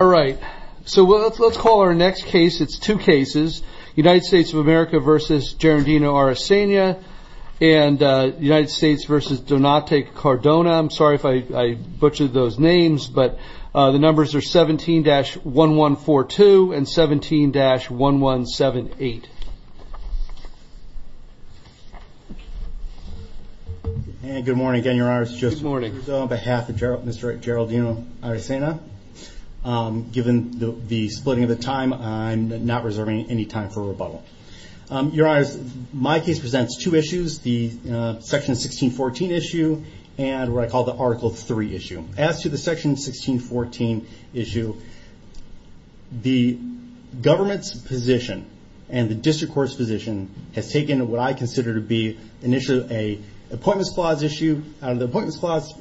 All right, so let's call our next case, it's two cases, United States of America v. Geraldino Aracena and United States v. Donate Cardona. I'm sorry if I butchered those names, but the numbers are 17-1142 and 17-1178. And good morning again, Your Honors. Just on behalf of Mr. Geraldino Aracena, given the splitting of the time, I'm not reserving any time for rebuttal. Your Honors, my case presents two issues, the Section 1614 issue and what I call the Article 3 issue. As to the Section 1614 issue, the government's position and the District Court's position has taken what I consider to be initially an Appointments Clause issue, the Appointments Clause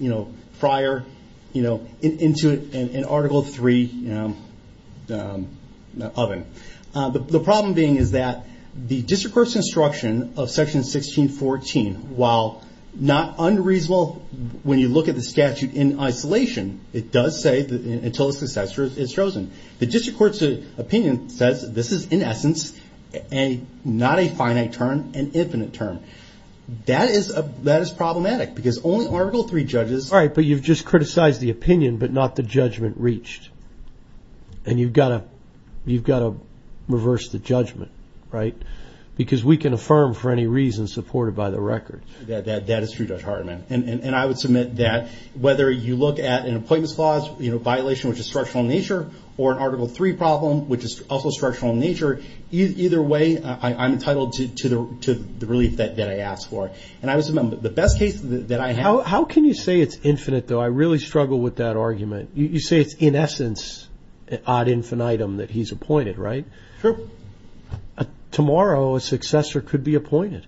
prior, into an Article 3 oven. The problem being is that the District Court's instruction of Section 1614, while not unreasonable when you look at the statute in isolation, it does say that until a successor is chosen. The District Court's opinion says this is, in essence, not a finite term, an infinite term. That is problematic because only Article 3 judges... All right, but you've just criticized the opinion but not the judgment reached. And you've got to reverse the judgment, right? Because we can affirm for any reason supported by the record. That is true, Judge Hardiman. And I would submit that whether you look at an Appointments Clause violation, which is structural in nature, or an Article 3 problem, which is also structural in nature, either way, I'm entitled to the relief that I ask for. And the best case that I have... How can you say it's infinite, though? I really struggle with that argument. You say it's, in essence, ad infinitum that he's appointed, right? Sure. Tomorrow, a successor could be appointed.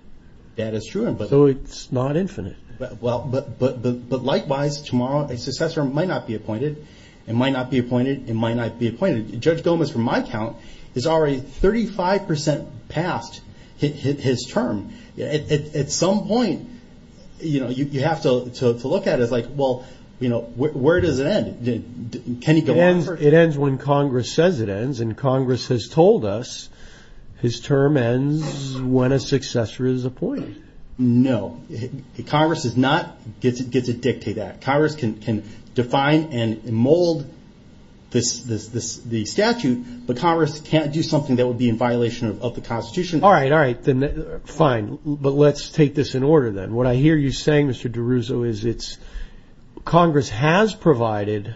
That is true. So it's not infinite. But likewise, tomorrow, a successor might not be appointed, and might not be appointed, and might not be appointed. Judge Gomez, from my count, has already 35% passed his term. At some point, you have to look at it like, well, where does it end? It ends when Congress says it ends, and Congress has told us his term ends when a successor is appointed. No. Congress does not get to dictate that. Congress can define and mold the statute, but Congress can't do something that would be in violation of the Constitution. All right, all right. Fine. But let's take this in order, then. What I hear you saying, Mr. DiRusso, is Congress has provided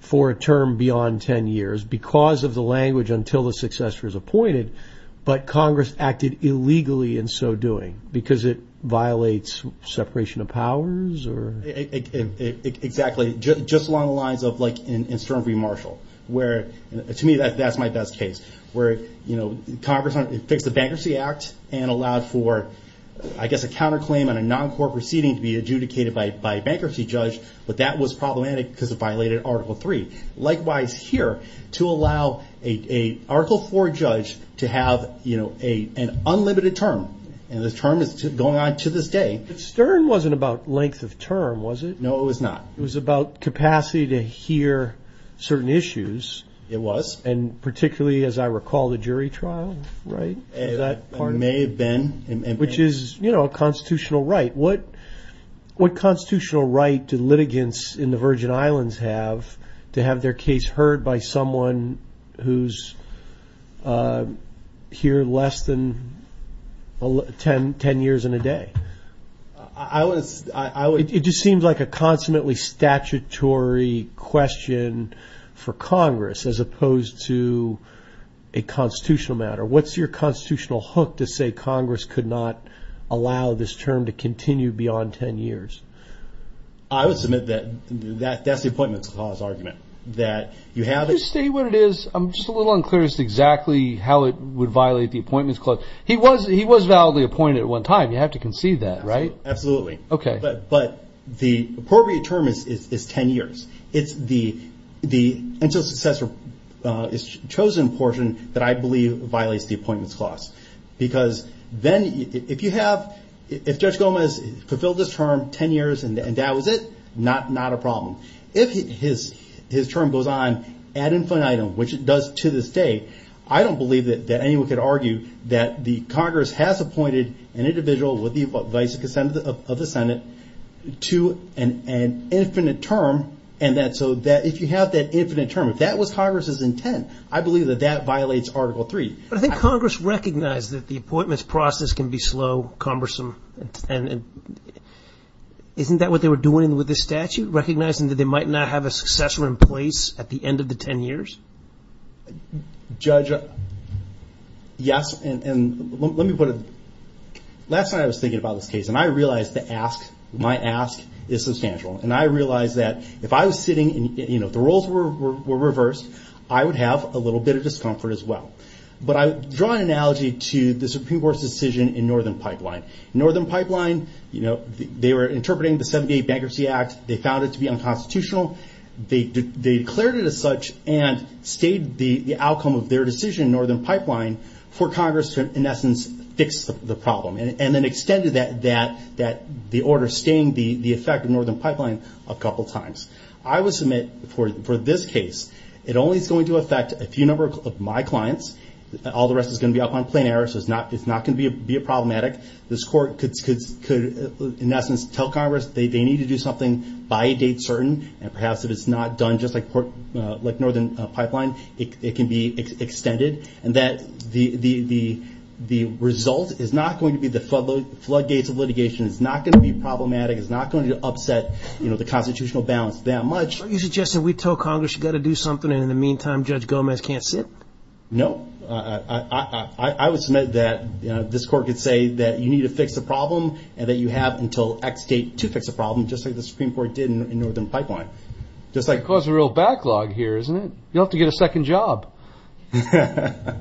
for a term beyond 10 years, because of the language, until the successor is appointed, but Congress acted illegally in so doing, because it violates separation of powers? Exactly. Just along the lines of, like, in Stern v. Marshall, where, to me, that's my best case, where Congress fixed the Bankruptcy Act and allowed for, I guess, a counterclaim on a non-court proceeding to be adjudicated by a bankruptcy judge, but that was problematic because it violated Article III. Likewise here, to allow an Article IV judge to have an unlimited term, and the term is going on to this day. But Stern wasn't about length of term, was it? No, it was not. It was about capacity to hear certain issues. It was. And particularly, as I recall, the jury trial, right? It may have been. Which is, you know, a constitutional right. What constitutional right do litigants in the Virgin Islands have to have their case heard by someone who's here less than 10 years and a day? It just seems like a consummately statutory question for Congress, as opposed to a constitutional matter. What's your constitutional hook to say Congress could not allow this term to continue beyond 10 years? I would submit that that's the Appointments Clause argument. Just state what it is. I'm just a little unclear as to exactly how it would violate the Appointments Clause. He was validly appointed at one time. You have to concede that, right? Absolutely. Okay. But the appropriate term is 10 years. It's the until successor is chosen portion that I believe violates the Appointments Clause. Because then if Judge Gomez fulfilled this term 10 years and that was it, not a problem. If his term goes on ad infinitum, which it does to this day, I don't believe that anyone could argue that the Congress has appointed an individual with the advice and consent of the Senate to an infinite term. And so if you have that infinite term, if that was Congress's intent, I believe that that violates Article 3. But I think Congress recognized that the appointments process can be slow, cumbersome. And isn't that what they were doing with this statute, recognizing that they might not have a successor in place at the end of the 10 years? Judge, yes. And let me put it, last night I was thinking about this case and I realized the ask, my ask, is substantial. And I realized that if I was sitting and the roles were reversed, I would have a little bit of discomfort as well. But I draw an analogy to the Supreme Court's decision in Northern Pipeline. Northern Pipeline, they were interpreting the 78 Bankruptcy Act. They found it to be unconstitutional. They declared it as such and stayed the outcome of their decision in Northern Pipeline for Congress to, in essence, fix the problem. And then extended that, the order staying the effect of Northern Pipeline a couple times. I would submit for this case, it only is going to affect a few number of my clients. All the rest is going to be up on plain error, so it's not going to be problematic. This Court could, in essence, tell Congress they need to do something by a date certain. And perhaps if it's not done just like Northern Pipeline, it can be extended. And that the result is not going to be the floodgates of litigation. It's not going to be problematic. It's not going to upset the constitutional balance that much. Are you suggesting we tell Congress you've got to do something and in the meantime Judge Gomez can't sit? No. I would submit that this Court could say that you need to fix the problem and that you have until X date to fix the problem just like the Supreme Court did in Northern Pipeline. It's going to cause a real backlog here, isn't it? You'll have to get a second job. I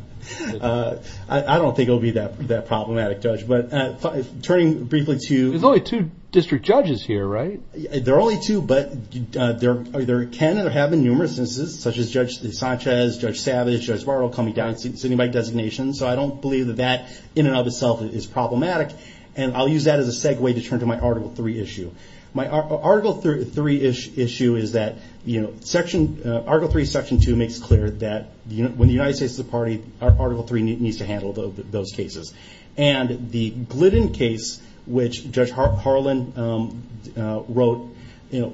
don't think it'll be that problematic, Judge. But turning briefly to... There's only two district judges here, right? There are only two, but there can or have been numerous instances, such as Judge Sanchez, Judge Savage, Judge Barrow coming down, sitting by designation. So I don't believe that that in and of itself is problematic. And I'll use that as a segue to turn to my Article III issue. My Article III-ish issue is that Article III, Section 2 makes clear that when the United States is a party, Article III needs to handle those cases. And the Glidden case, which Judge Harlan wrote,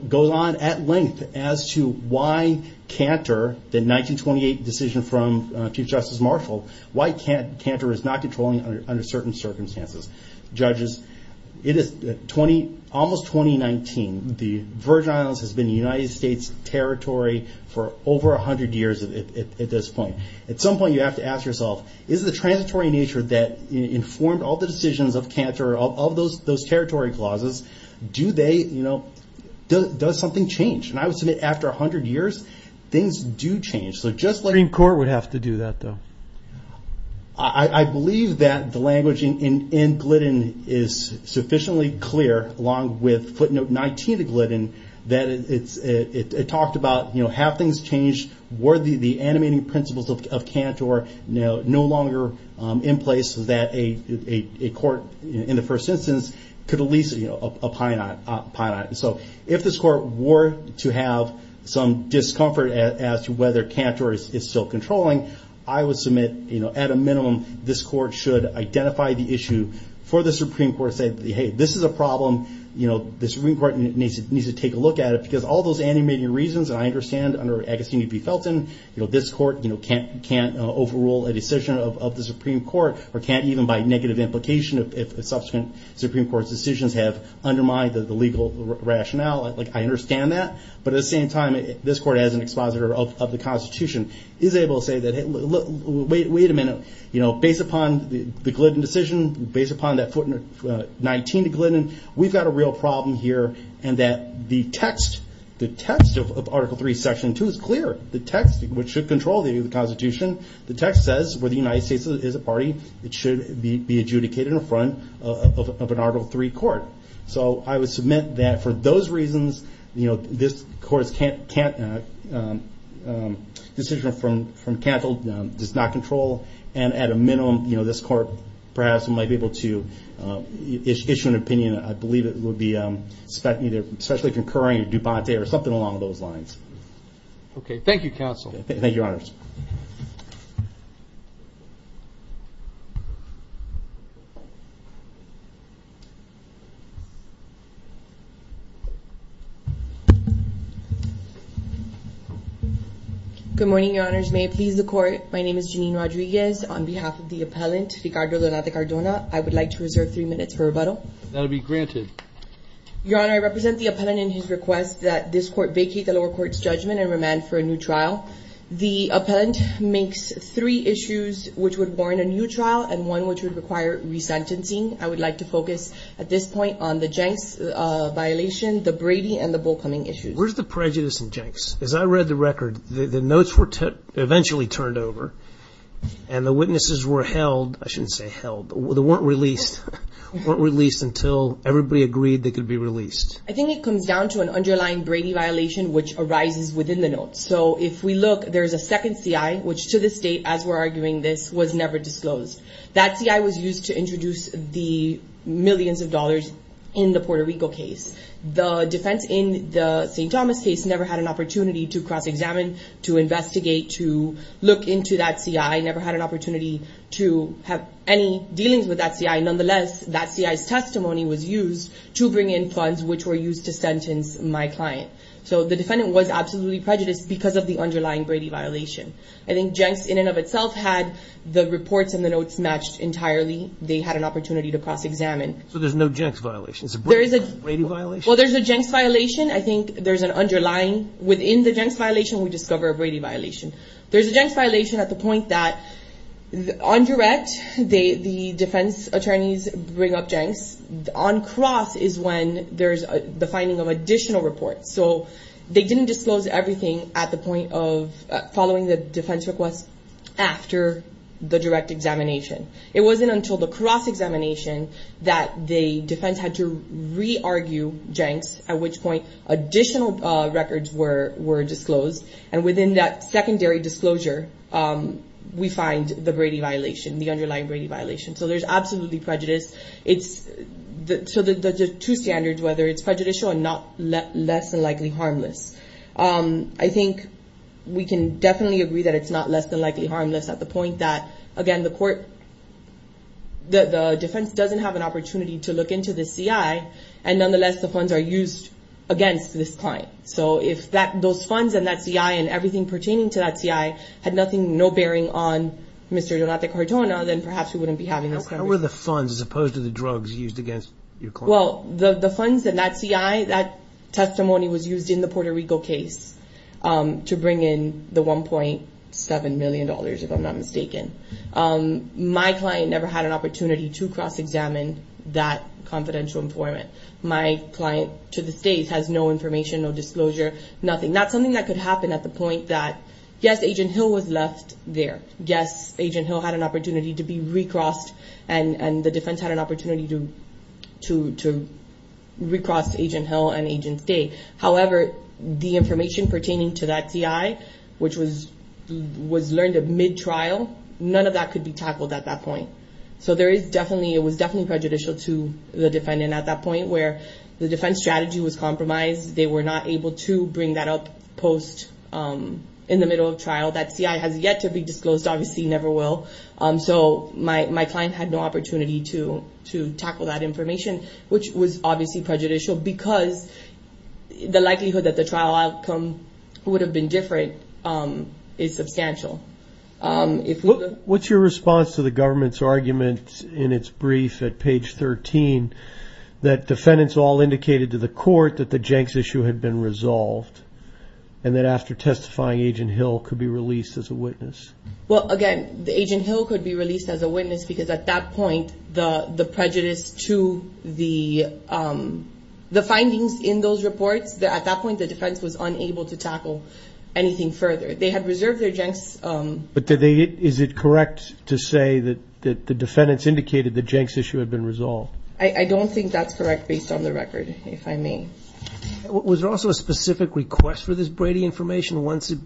goes on at length as to why Cantor, the 1928 decision from Chief Justice Marshall, why Cantor is not controlling under certain circumstances. Judges, it is almost 2019. The Virgin Islands has been a United States territory for over 100 years at this point. At some point, you have to ask yourself, is the transitory nature that informed all the decisions of Cantor, of those territory clauses, does something change? And I would submit after 100 years, things do change. The Supreme Court would have to do that, though. I believe that the language in Glidden is sufficiently clear, along with footnote 19 of Glidden, that it talked about, have things changed? Were the animating principles of Cantor no longer in place so that a court in the first instance could at least opine on it? So if this court were to have some discomfort as to whether Cantor is still controlling, I would submit, at a minimum, this court should identify the issue, for the Supreme Court to say, hey, this is a problem, the Supreme Court needs to take a look at it, because all those animating reasons, and I understand under Agostini v. Felton, this court can't overrule a decision of the Supreme Court, or can't even by negative implication if subsequent Supreme Court decisions have undermined the legal rationale. I understand that. But at the same time, this court, as an expositor of the Constitution, is able to say, wait a minute, based upon the Glidden decision, based upon that footnote 19 of Glidden, we've got a real problem here, and that the text of Article 3, Section 2 is clear. The text, which should control the Constitution, the text says where the United States is a party, it should be adjudicated in front of an Article 3 court. So I would submit that for those reasons, this court's decision from Cantil does not control, and at a minimum, this court perhaps might be able to issue an opinion, I believe it would be, especially concurring, or something along those lines. Thank you, Your Honors. Good morning, Your Honors. May it please the Court, my name is Jeanine Rodriguez. On behalf of the appellant, Ricardo Donate Cardona, I would like to reserve three minutes for rebuttal. That will be granted. Your Honor, I represent the appellant in his request that this court vacate the lower court's judgment and remand for a new trial. The appellant makes three issues which would warrant a new trial, and one which would require resentencing. I would like to focus, at this point, on the Jenks violation, the Brady, and the Bull Cumming issues. Where's the prejudice in Jenks? As I read the record, the notes were eventually turned over, and the witnesses were held, I shouldn't say held, they weren't released until everybody agreed they could be released. I think it comes down to an underlying Brady violation, which arises within the notes. So if we look, there's a second CI, which to this date, as we're arguing this, was never disclosed. That CI was used to introduce the millions of dollars in the Puerto Rico case. The defense in the St. Thomas case never had an opportunity to cross-examine, to investigate, to look into that CI, never had an opportunity to have any dealings with that CI. Nonetheless, that CI's testimony was used to bring in funds which were used to sentence my client. So the defendant was absolutely prejudiced because of the underlying Brady violation. I think Jenks, in and of itself, had the reports and the notes matched entirely. They had an opportunity to cross-examine. So there's no Jenks violation? It's a Brady violation? Well, there's a Jenks violation. I think there's an underlying, within the Jenks violation, we discover a Brady violation. There's a Jenks violation at the point that on direct, the defense attorneys bring up Jenks. On cross is when there's the finding of additional reports. So they didn't disclose everything at the point of following the defense request after the direct examination. It wasn't until the cross-examination that the defense had to re-argue Jenks, at which point additional records were disclosed. And within that secondary disclosure, we find the Brady violation, the underlying Brady violation. So there's absolutely prejudice. So there's two standards, whether it's prejudicial and less than likely harmless. I think we can definitely agree that it's not less than likely harmless at the point that, again, the defense doesn't have an opportunity to look into the CI, and nonetheless the funds are used against this client. So if those funds and that CI and everything pertaining to that CI had no bearing on Mr. Donate Cardona, then perhaps we wouldn't be having this conversation. How were the funds, as opposed to the drugs, used against your client? Well, the funds and that CI, that testimony was used in the Puerto Rico case to bring in the $1.7 million, if I'm not mistaken. My client never had an opportunity to cross-examine that confidential informant. My client to this day has no information, no disclosure, nothing. That's something that could happen at the point that, yes, Agent Hill was left there. Yes, Agent Hill had an opportunity to be recrossed, and the defense had an opportunity to recross Agent Hill and Agent Day. However, the information pertaining to that CI, which was learned of mid-trial, none of that could be tackled at that point. So it was definitely prejudicial to the defendant at that point, where the defense strategy was compromised. They were not able to bring that up in the middle of trial. That CI has yet to be disclosed, obviously never will. So my client had no opportunity to tackle that information, which was obviously prejudicial, because the likelihood that the trial outcome would have been different is substantial. What's your response to the government's argument in its brief at page 13 that defendants all indicated to the court that the Jenks issue had been resolved and that after testifying, Agent Hill could be released as a witness? Well, again, Agent Hill could be released as a witness because at that point the prejudice to the findings in those reports, at that point the defense was unable to tackle anything further. They had reserved their Jenks. But is it correct to say that the defendants indicated the Jenks issue had been resolved? I don't think that's correct based on the record, if I may. Was there also a specific request for this Brady information once it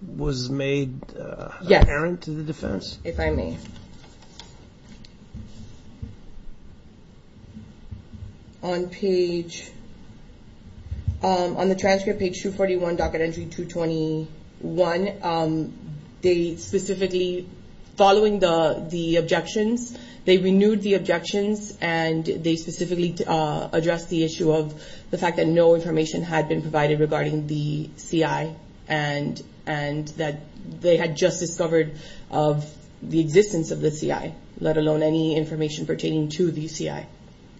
was made apparent to the defense? Yes, if I may. On the transcript, page 241, docket entry 221, they specifically, following the objections, they renewed the objections and they specifically addressed the issue of the fact that no information had been provided regarding the CI and that they had just discovered the existence of the CI, let alone any information pertaining to the CI.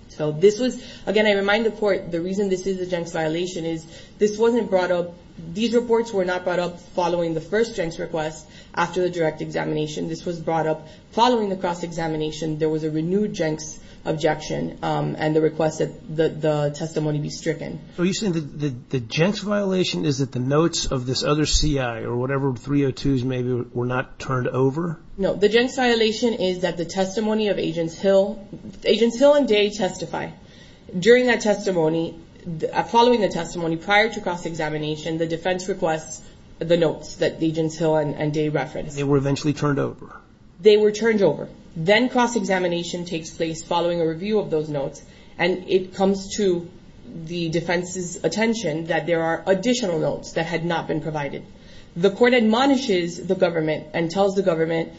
So this was, again, I remind the court, the reason this is a Jenks violation is this wasn't brought up, these reports were not brought up following the first Jenks request after the direct examination. This was brought up following the cross-examination. There was a renewed Jenks objection and the request that the testimony be stricken. So you're saying the Jenks violation is that the notes of this other CI or whatever 302s maybe were not turned over? No, the Jenks violation is that the testimony of Agents Hill and Day testify. During that testimony, following the testimony prior to cross-examination, the defense requests the notes that Agents Hill and Day referenced. They were eventually turned over. They were turned over. Then cross-examination takes place following a review of those notes and it comes to the defense's attention that there are additional notes that had not been provided. The court admonishes the government and tells the government,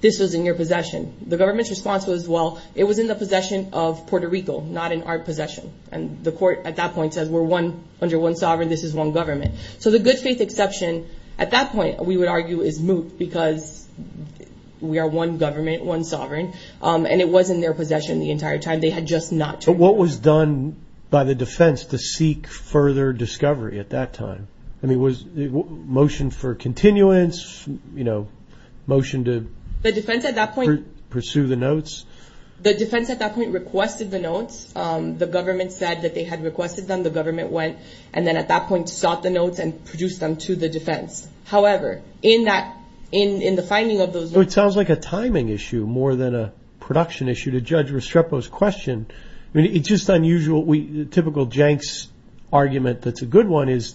this was in your possession. The government's response was, well, it was in the possession of Puerto Rico, not in our possession. And the court at that point says, we're under one sovereign, this is one government. So the good faith exception at that point, we would argue, is moot because we are one government, one sovereign, and it was in their possession the entire time. They had just not turned it over. But what was done by the defense to seek further discovery at that time? I mean, was it motion for continuance, you know, motion to pursue the notes? The defense at that point requested the notes. The government said that they had requested them. The government went and then at that point sought the notes and produced them to the defense. However, in the finding of those notes. Well, it sounds like a timing issue more than a production issue to Judge Restrepo's question. I mean, it's just unusual. Typical Jenks argument that's a good one is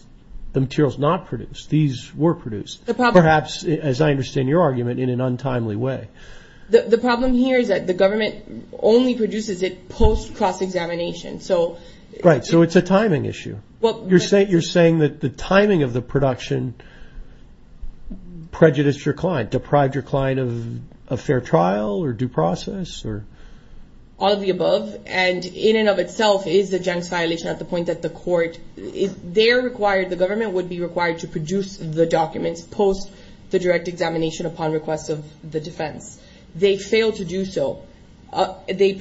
the material's not produced. These were produced. Perhaps, as I understand your argument, in an untimely way. The problem here is that the government only produces it post-cross-examination. Right, so it's a timing issue. You're saying that the timing of the production prejudiced your client, deprived your client of a fair trial or due process? All of the above. And in and of itself is the Jenks violation at the point that the court is there required, the government would be required to produce the documents post the direct examination upon request of the defense. They failed to do so. They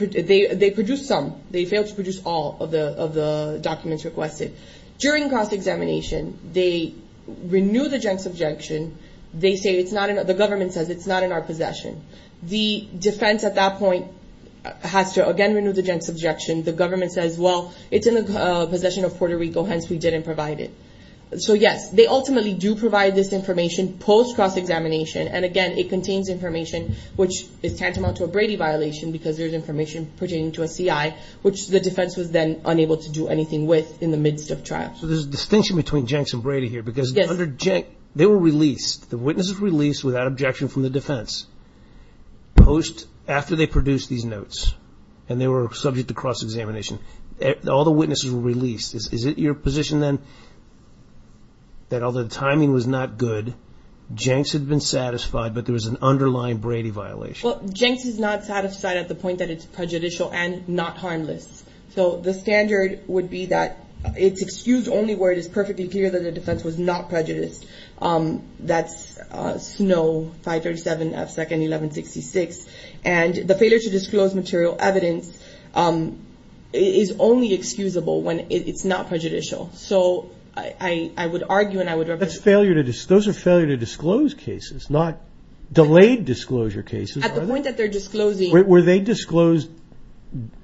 produced some. They failed to produce all of the documents requested. During cross-examination, they renew the Jenks objection. The government says it's not in our possession. The defense at that point has to, again, renew the Jenks objection. The government says, well, it's in the possession of Puerto Rico, hence we didn't provide it. So, yes, they ultimately do provide this information post-cross-examination. And, again, it contains information which is tantamount to a Brady violation because there's information pertaining to a CI, which the defense was then unable to do anything with in the midst of trial. So there's a distinction between Jenks and Brady here because under Jenks, they were released, the witnesses were released without objection from the defense post after they produced these notes and they were subject to cross-examination. All the witnesses were released. Is it your position then that although the timing was not good, Jenks had been satisfied, but there was an underlying Brady violation? Well, Jenks is not satisfied at the point that it's prejudicial and not harmless. So the standard would be that it's excused only where it is perfectly clear that the defense was not prejudiced. That's Snow, 537 F. 2nd, 1166. And the failure to disclose material evidence is only excusable when it's not prejudicial. So I would argue and I would represent... Those are failure to disclose cases, not delayed disclosure cases. At the point that they're disclosing... Were they disclosed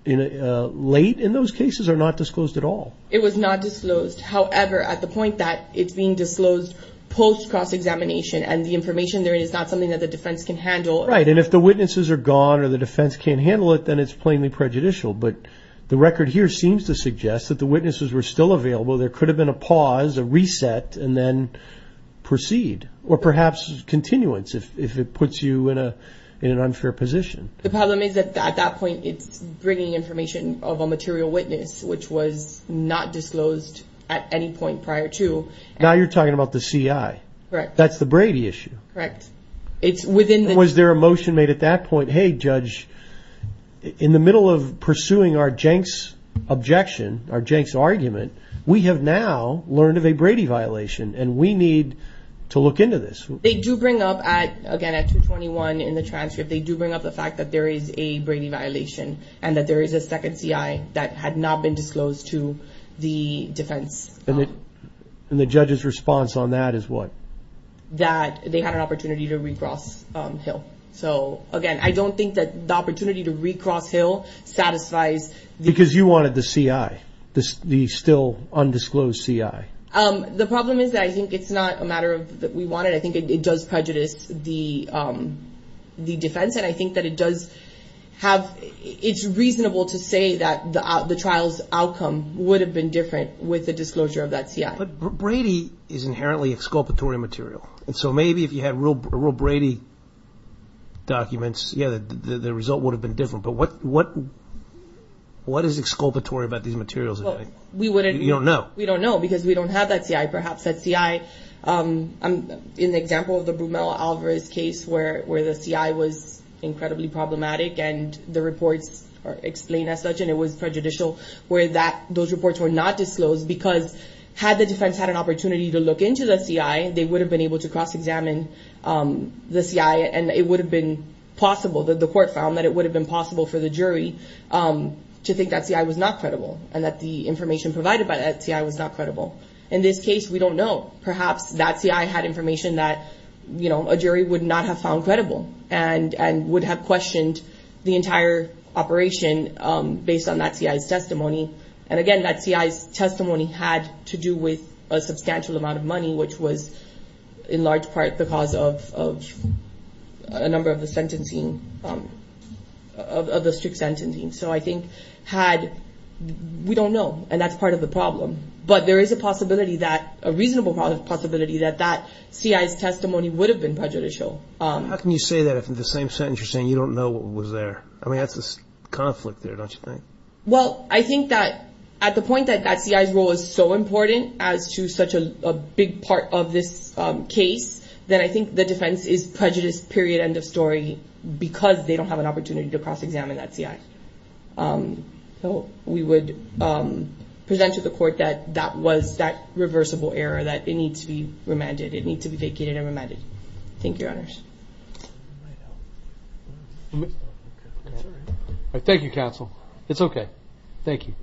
late in those cases or not disclosed at all? It was not disclosed. However, at the point that it's being disclosed post cross-examination and the information there is not something that the defense can handle... Right, and if the witnesses are gone or the defense can't handle it, then it's plainly prejudicial. But the record here seems to suggest that the witnesses were still available. There could have been a pause, a reset, and then proceed, or perhaps continuance if it puts you in an unfair position. The problem is that at that point it's bringing information of a material witness which was not disclosed at any point prior to... Now you're talking about the CI. Correct. That's the Brady issue. Correct. Was there a motion made at that point, hey judge, in the middle of pursuing our Jenks objection, our Jenks argument, we have now learned of a Brady violation and we need to look into this. They do bring up, again at 221 in the transcript, they do bring up the fact that there is a Brady violation and that there is a second CI that had not been disclosed to the defense. And the judge's response on that is what? That they had an opportunity to recross Hill. So again, I don't think that the opportunity to recross Hill satisfies... Because you wanted the CI, the still undisclosed CI. The problem is that I think it's not a matter that we wanted. I think it does prejudice the defense and I think that it's reasonable to say that the trial's outcome would have been different with the disclosure of that CI. But Brady is inherently exculpatory material. And so maybe if you had real Brady documents, yeah, the result would have been different. But what is exculpatory about these materials? You don't know. We don't know because we don't have that CI. Perhaps that CI, in the example of the Brumell-Alvarez case where the CI was incredibly problematic and the reports are explained as such and it was prejudicial, where those reports were not disclosed because had the defense had an opportunity to look into the CI, they would have been able to cross-examine the CI and it would have been possible, the court found that it would have been possible for the jury to think that CI was not credible and that the information provided by that CI was not credible. In this case, we don't know. Perhaps that CI had information that a jury would not have found credible and would have questioned the entire operation based on that CI's testimony. And again, that CI's testimony had to do with a substantial amount of money, which was in large part the cause of a number of the strict sentencing. So I think had we don't know, and that's part of the problem, but there is a reasonable possibility that that CI's testimony would have been prejudicial. How can you say that if in the same sentence you're saying you don't know what was there? I mean, that's a conflict there, don't you think? Well, I think that at the point that that CI's role is so important as to such a big part of this case, then I think the defense is prejudiced, period, end of story, because they don't have an opportunity to cross-examine that CI. So we would present to the court that that was that reversible error, that it needs to be remanded. It needs to be vacated and remanded. Thank you, Your Honors. Thank you, counsel. It's okay. Thank you.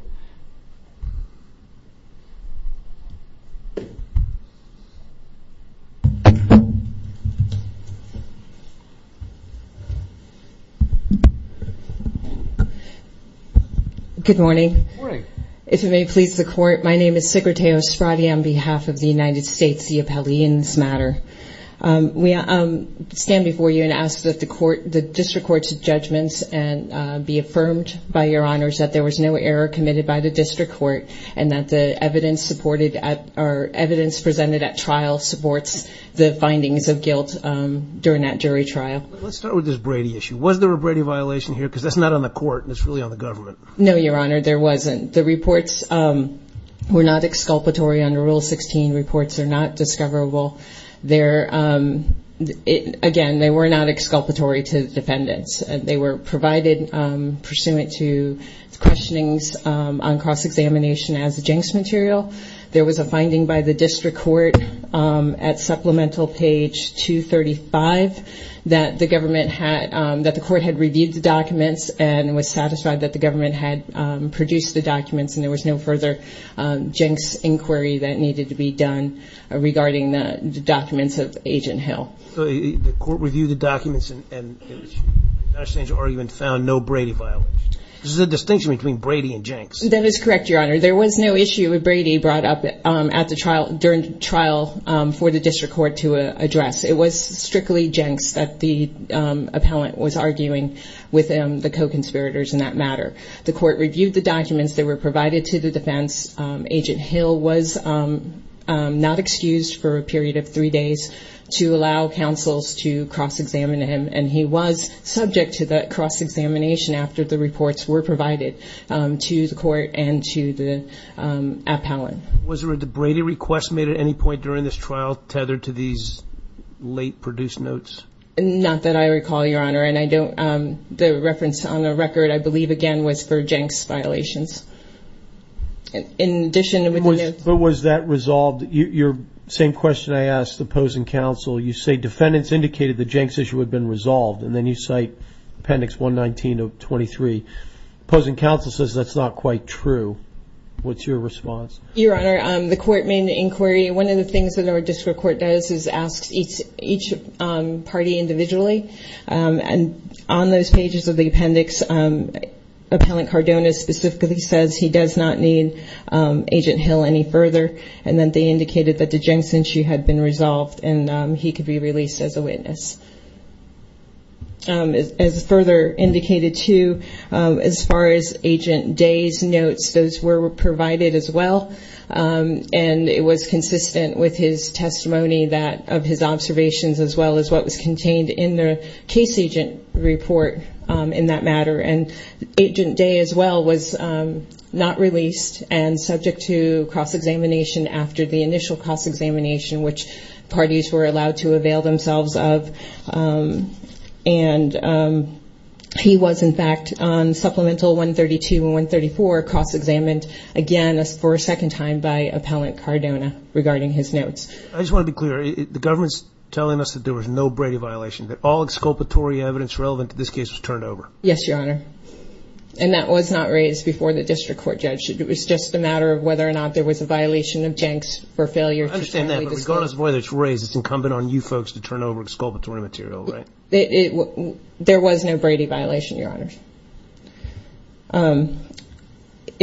Good morning. Good morning. If it may please the Court, my name is Sigurtao Spradi on behalf of the United States C.A.P.L.E. in this matter. We stand before you and ask that the district court's judgments be affirmed by Your Honors, that there was no error committed by the district court and that the evidence presented at trial supports the findings of guilt during that jury trial. Let's start with this Brady issue. Was there a Brady violation here? Because that's not on the court and it's really on the government. No, Your Honor, there wasn't. The reports were not exculpatory under Rule 16. The reports are not discoverable. Again, they were not exculpatory to the defendants. They were provided pursuant to questionings on cross-examination as a jinx material. There was a finding by the district court at supplemental page 235 that the court had reviewed the documents and was satisfied that the government had produced the documents and there was no further jinx inquiry that needed to be done regarding the documents of Agent Hill. So the court reviewed the documents and found no Brady violation. This is a distinction between Brady and jinx. That is correct, Your Honor. There was no issue of Brady brought up during trial for the district court to address. It was strictly jinx that the appellant was arguing with the co-conspirators in that matter. The court reviewed the documents that were provided to the defense. Agent Hill was not excused for a period of three days to allow counsels to cross-examine him, and he was subject to the cross-examination after the reports were provided to the court and to the appellant. Was there a Brady request made at any point during this trial tethered to these late produced notes? Not that I recall, Your Honor. The reference on the record, I believe, again, was for jinx violations. Was that resolved? Your same question I asked the opposing counsel. You say defendants indicated the jinx issue had been resolved, and then you cite Appendix 119 of 23. Opposing counsel says that's not quite true. What's your response? Your Honor, the court made an inquiry. One of the things that our district court does is ask each party individually. On those pages of the appendix, Appellant Cardona specifically says he does not need Agent Hill any further, and then they indicated that the jinx issue had been resolved and he could be released as a witness. As further indicated, too, as far as Agent Day's notes, those were provided as well, and it was consistent with his testimony of his observations as well as what was contained in the case agent report in that matter. And Agent Day as well was not released and subject to cross-examination after the initial cross-examination, which parties were allowed to avail themselves of. He was, in fact, on Supplemental 132 and 134 cross-examined again for a second time by Appellant Cardona regarding his notes. I just want to be clear. The government's telling us that there was no Brady violation, that all exculpatory evidence relevant to this case was turned over. Yes, Your Honor, and that was not raised before the district court judge. It was just a matter of whether or not there was a violation of jinx for failure to formally disclose. I understand that, but regardless of whether it's raised, it's incumbent on you folks to turn over exculpatory material, right? There was no Brady violation, Your Honor.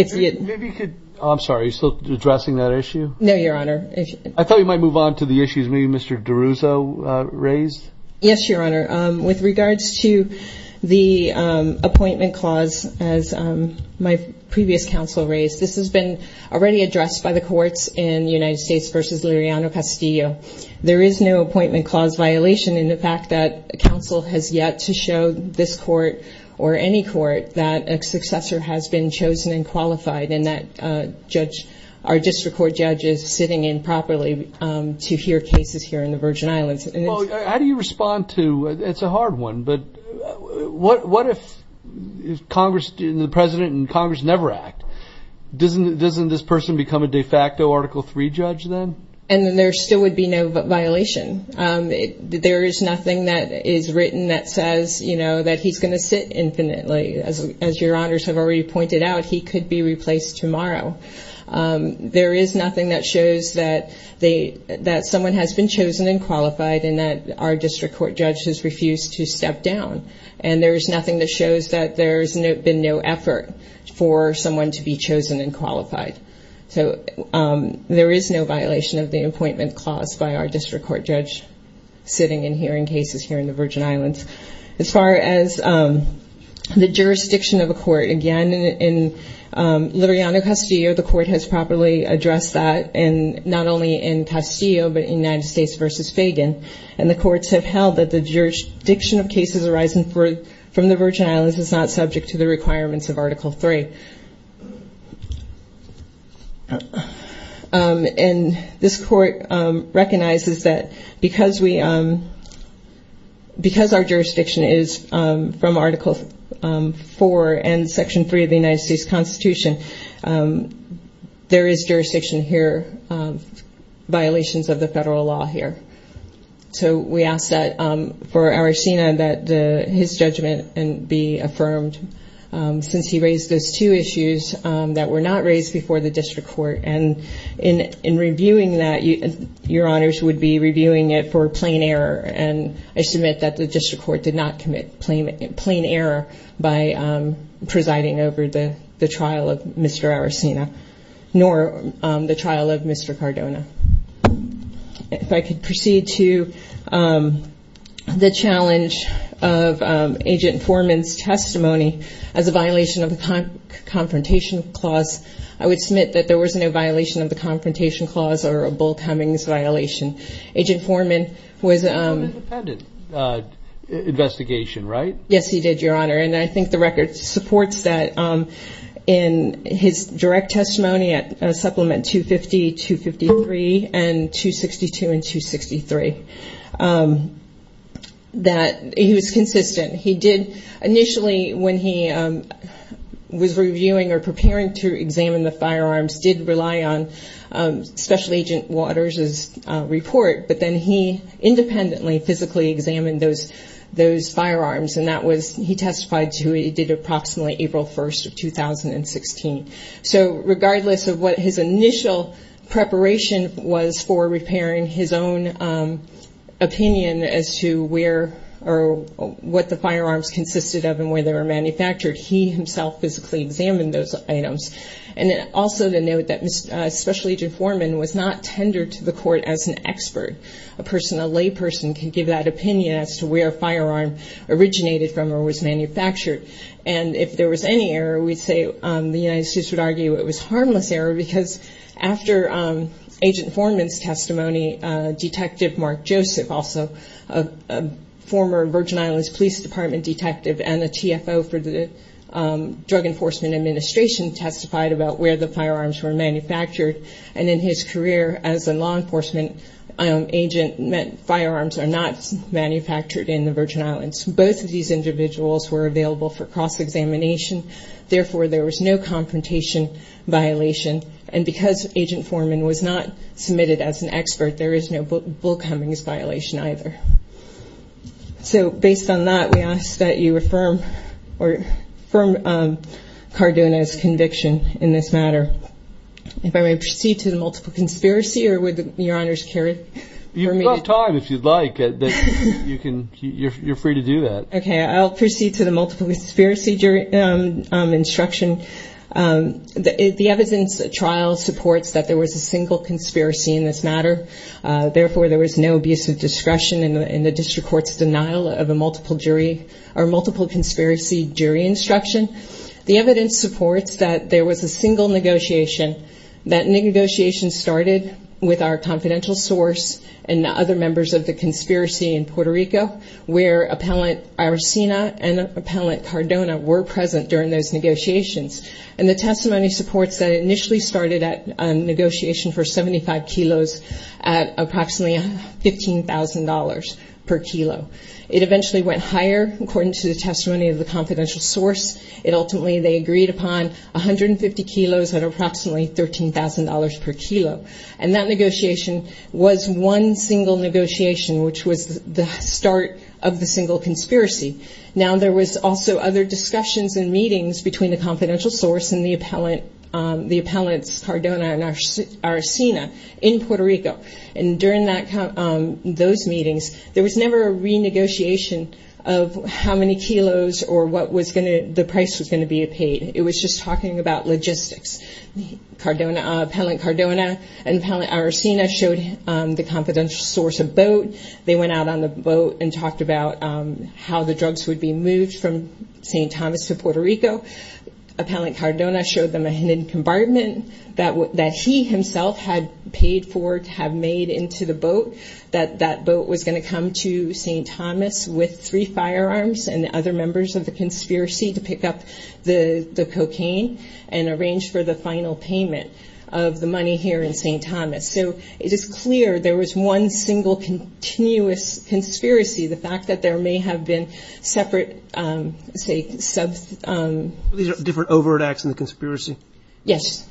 Maybe you could... I'm sorry, are you still addressing that issue? No, Your Honor. I thought you might move on to the issues maybe Mr. DeRuzzo raised. Yes, Your Honor. With regards to the appointment clause, as my previous counsel raised, this has been already addressed by the courts in United States v. Liriano-Castillo. There is no appointment clause violation in the fact that counsel has yet to show this court or any court that a successor has been chosen and qualified, and that our district court judge is sitting in properly to hear cases here in the Virgin Islands. How do you respond to, it's a hard one, but what if Congress and the President and Congress never act? Doesn't this person become a de facto Article III judge then? And then there still would be no violation. There is nothing that is written that says that he's going to sit infinitely. As Your Honors have already pointed out, he could be replaced tomorrow. There is nothing that shows that someone has been chosen and qualified and that our district court judge has refused to step down. And there's nothing that shows that there's been no effort for someone to be chosen and qualified. So there is no violation of the appointment clause by our district court judge sitting and hearing cases here in the Virgin Islands. As far as the jurisdiction of a court, again, in Liberiano-Castillo, the court has properly addressed that, and not only in Castillo but in United States v. Fagan. And the courts have held that the jurisdiction of cases arising from the Virgin Islands is not subject to the requirements of Article III. And this court recognizes that because our jurisdiction is from Article IV and Section III of the United States Constitution, there is jurisdiction here, violations of the federal law here. So we ask that for our SENA that his judgment be affirmed. Since he raised those two issues that were not raised before the district court. And in reviewing that, your honors would be reviewing it for plain error. And I submit that the district court did not commit plain error by presiding over the trial of Mr. Aracena, nor the trial of Mr. Cardona. If I could proceed to the challenge of Agent Foreman's testimony as a violation of the Confrontation Clause. I would submit that there was no violation of the Confrontation Clause or a Bull Cummings violation. Agent Foreman was- An independent investigation, right? Yes, he did, your honor. And I think the record supports that in his direct testimony at Supplement 250, 253, and 262 and 263. That he was consistent. He did initially, when he was reviewing or preparing to examine the firearms, did rely on Special Agent Waters' report. But then he independently, physically examined those firearms. And that was, he testified to, he did approximately April 1st of 2016. So regardless of what his initial preparation was for repairing his own opinion as to where or what the firearms consisted of and where they were manufactured, he himself physically examined those items. And also to note that Special Agent Foreman was not tendered to the court as an expert. A person, a layperson, can give that opinion as to where a firearm originated from or was manufactured. And if there was any error, we'd say the United States would argue it was harmless error because after Agent Foreman's testimony, Detective Mark Joseph, also a former Virgin Islands Police Department detective and a TFO for the Drug Enforcement Administration, testified about where the firearms were manufactured. And in his career as a law enforcement agent, firearms are not manufactured in the Virgin Islands. Both of these individuals were available for cross-examination. Therefore, there was no confrontation violation. And because Agent Foreman was not submitted as an expert, there is no Bill Cummings violation either. So based on that, we ask that you affirm Cardona's conviction in this matter. If I may proceed to the multiple conspiracy or would Your Honors carry it for me? You've got time if you'd like. You're free to do that. Okay. I'll proceed to the multiple conspiracy jury instruction. The evidence trial supports that there was a single conspiracy in this matter. Therefore, there was no abuse of discretion in the district court's denial of a multiple jury or multiple conspiracy jury instruction. The evidence supports that there was a single negotiation. That negotiation started with our confidential source and other members of the conspiracy in Puerto Rico, where Appellant Aracena and Appellant Cardona were present during those negotiations. And the testimony supports that it initially started at a negotiation for 75 kilos at approximately $15,000 per kilo. It eventually went higher, according to the testimony of the confidential source. Ultimately, they agreed upon 150 kilos at approximately $13,000 per kilo. And that negotiation was one single negotiation, which was the start of the single conspiracy. Now, there was also other discussions and meetings between the confidential source and the appellants Cardona and Aracena in Puerto Rico. And during those meetings, there was never a renegotiation of how many kilos or what the price was going to be paid. It was just talking about logistics. Appellant Cardona and Appellant Aracena showed the confidential source a boat. They went out on the boat and talked about how the drugs would be moved from St. Thomas to Puerto Rico. Appellant Cardona showed them a hidden compartment that he himself had paid for to have made into the boat, that that boat was going to come to St. Thomas with three firearms and other members of the conspiracy to pick up the cocaine and arrange for the final payment of the money here in St. Thomas. So it is clear there was one single continuous conspiracy. The fact that there may have been separate, say, sub- These are different overt acts in the conspiracy. Yes,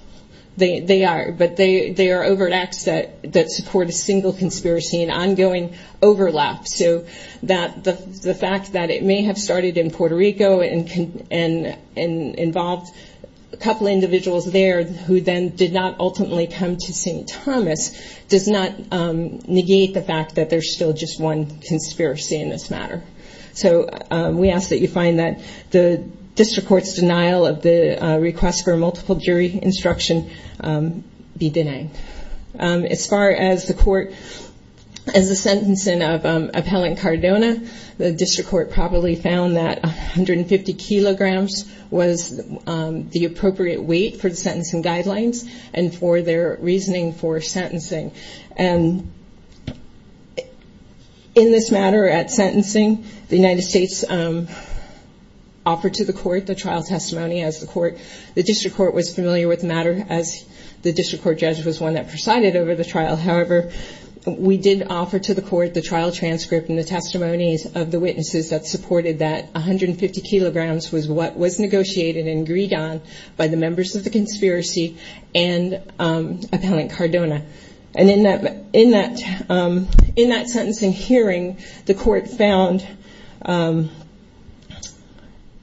they are. But they are overt acts that support a single conspiracy and ongoing overlap. So the fact that it may have started in Puerto Rico and involved a couple individuals there who then did not ultimately come to St. Thomas does not negate the fact that there is still just one conspiracy in this matter. So we ask that you find that the district court's denial of the request for multiple jury instruction be denied. As far as the court, as the sentencing of Appellant Cardona, the district court probably found that 150 kilograms was the appropriate weight for the sentencing guidelines and for their reasoning for sentencing. And in this matter at sentencing, the United States offered to the court the trial testimony as the court. The district court was familiar with the matter as the district court judge was one that presided over the trial. However, we did offer to the court the trial transcript and the testimonies of the witnesses that supported that 150 kilograms was what was negotiated and agreed on by the members of the conspiracy and Appellant Cardona. And in that sentencing hearing, the court found,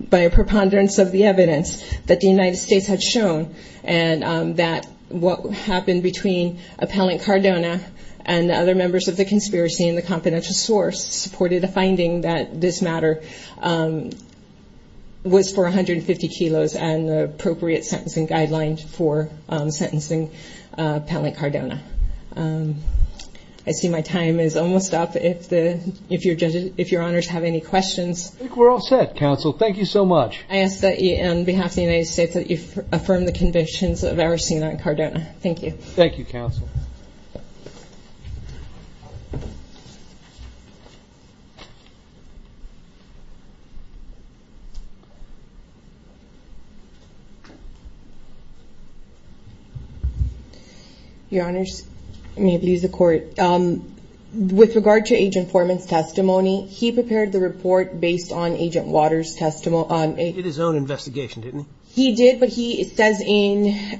by a preponderance of the evidence, that the United States had shown and that what happened between Appellant Cardona and the other members of the conspiracy and the confidential source supported a finding that this matter was for 150 kilos and the appropriate sentencing guidelines for sentencing Appellant Cardona. I see my time is almost up. If your honors have any questions. I think we're all set, counsel. Thank you so much. I ask that you, on behalf of the United States, that you affirm the convictions of Aracena and Cardona. Thank you. Thank you, counsel. Your honors, I may have to use the court. With regard to Agent Foreman's testimony, he prepared the report based on Agent Waters' testimony. He did his own investigation, didn't he? He did, but he says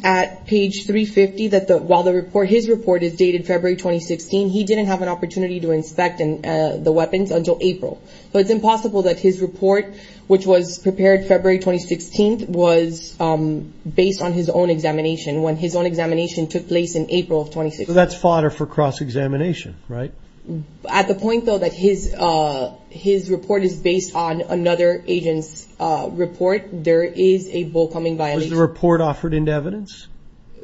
at page 350 that while his report is dated February 2016, he didn't have an opportunity to inspect the weapons until April. So it's impossible that his report, which was prepared February 2016, was based on his own examination when his own examination took place in April of 2016. So that's fodder for cross-examination, right? At the point, though, that his report is based on another agent's report, there is a bull-cumming violation. Was the report offered into evidence?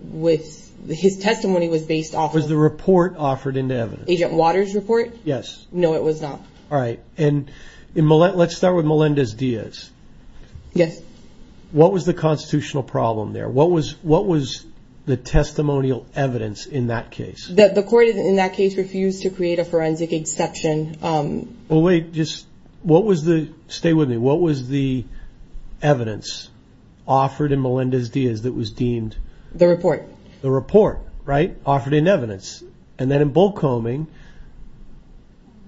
His testimony was based off of... Was the report offered into evidence? Agent Waters' report? Yes. No, it was not. All right. Let's start with Melendez-Diaz. Yes. What was the constitutional problem there? What was the testimonial evidence in that case? The court in that case refused to create a forensic exception. Well, wait, just... What was the... Stay with me. What was the evidence offered in Melendez-Diaz that was deemed... The report. The report, right? Offered in evidence. And then in bull-cumming,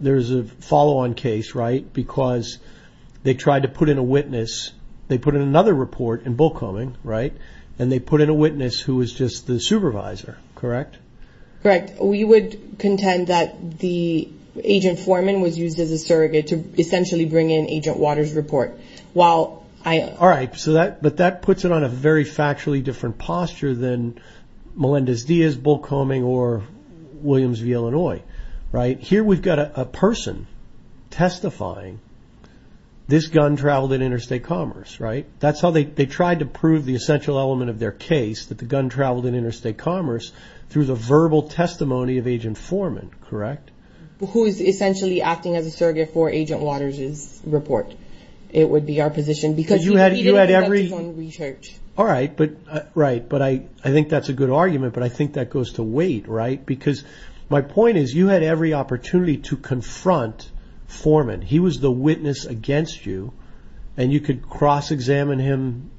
there's a follow-on case, right? Because they tried to put in a witness. They put in another report in bull-cumming, right? And they put in a witness who was just the supervisor, correct? Correct. We would contend that the agent foreman was used as a surrogate to essentially bring in Agent Waters' report. While I... All right. But that puts it on a very factually different posture than Melendez-Diaz, bull-cumming, or Williams v. Illinois, right? Here we've got a person testifying, this gun traveled in interstate commerce, right? That's how they tried to prove the essential element of their case, that the gun traveled in interstate commerce, through the verbal testimony of Agent Foreman, correct? Who is essentially acting as a surrogate for Agent Waters' report. It would be our position. Because you had every... Because he repeated it, that's his own research. All right. Right. But I think that's a good argument, but I think that goes to wait, right? Because my point is, you had every opportunity to confront Foreman. He was the witness against you, and you could cross-examine him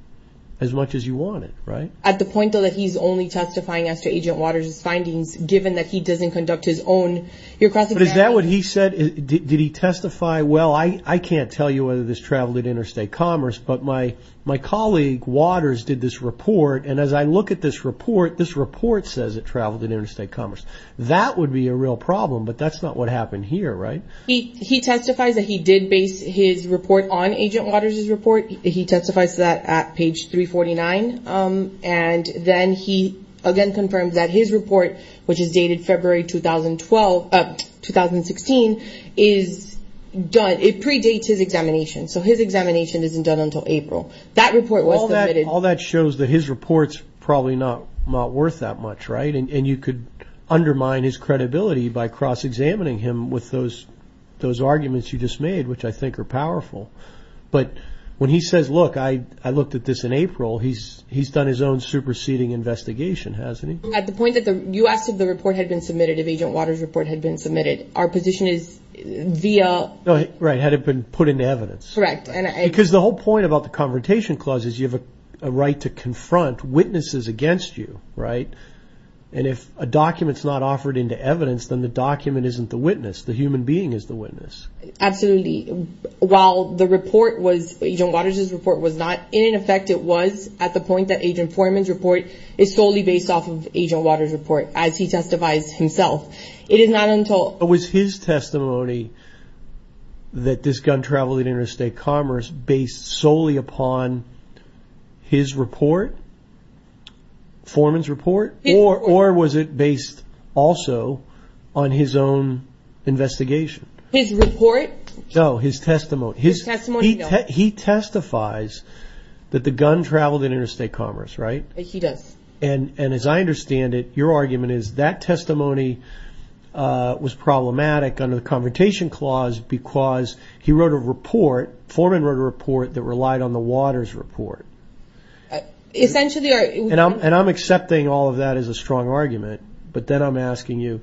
as much as you wanted, right? At the point, though, that he's only testifying as to Agent Waters' findings, given that he doesn't conduct his own... But is that what he said? Did he testify? Well, I can't tell you whether this traveled in interstate commerce, but my colleague, Waters, did this report, and as I look at this report, this report says it traveled in interstate commerce. That would be a real problem, but that's not what happened here, right? He testifies that he did base his report on Agent Waters' report. He testifies to that at page 349. And then he, again, confirms that his report, which is dated February 2016, is done. It predates his examination, so his examination isn't done until April. That report was submitted... That report's probably not worth that much, right? And you could undermine his credibility by cross-examining him with those arguments you just made, which I think are powerful. But when he says, look, I looked at this in April, he's done his own superseding investigation, hasn't he? At the point that you asked if the report had been submitted, if Agent Waters' report had been submitted, our position is via... Right, had it been put into evidence. Correct. Because the whole point about the Confrontation Clause is you have a right to confront witnesses against you, right? And if a document's not offered into evidence, then the document isn't the witness. The human being is the witness. Absolutely. While the report was... Agent Waters' report was not... In effect, it was at the point that Agent Forman's report is solely based off of Agent Waters' report, as he testifies himself. It is not until... But was his testimony that this gun traveled in interstate commerce based solely upon his report? Forman's report? His report. Or was it based also on his own investigation? His report? No, his testimony. His testimony, no. He testifies that the gun traveled in interstate commerce, right? He does. And as I understand it, your argument is that testimony was problematic under the Confrontation Clause because he wrote a report, Forman wrote a report that relied on the Waters' report. Essentially... And I'm accepting all of that as a strong argument, but then I'm asking you,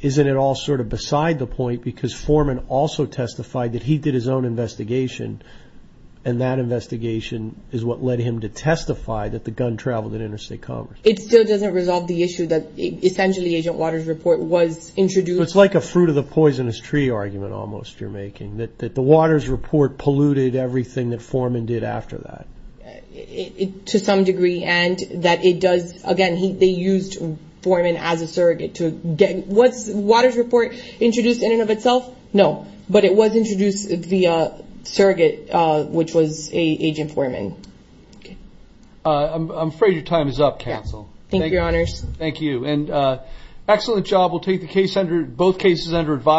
isn't it all sort of beside the point because Forman also testified that he did his own investigation and that investigation is what led him to testify that the gun traveled in interstate commerce? It still doesn't resolve the issue that essentially Agent Waters' report was introduced... It's like a fruit-of-the-poisonous-tree argument almost you're making, that the Waters' report polluted everything that Forman did after that. To some degree, and that it does... Again, they used Forman as a surrogate to get... Was Waters' report introduced in and of itself? No, but it was introduced via surrogate, which was Agent Forman. Okay. I'm afraid your time is up, Counsel. Thank you, Your Honors. Thank you. And excellent job. We'll take both cases under advisement.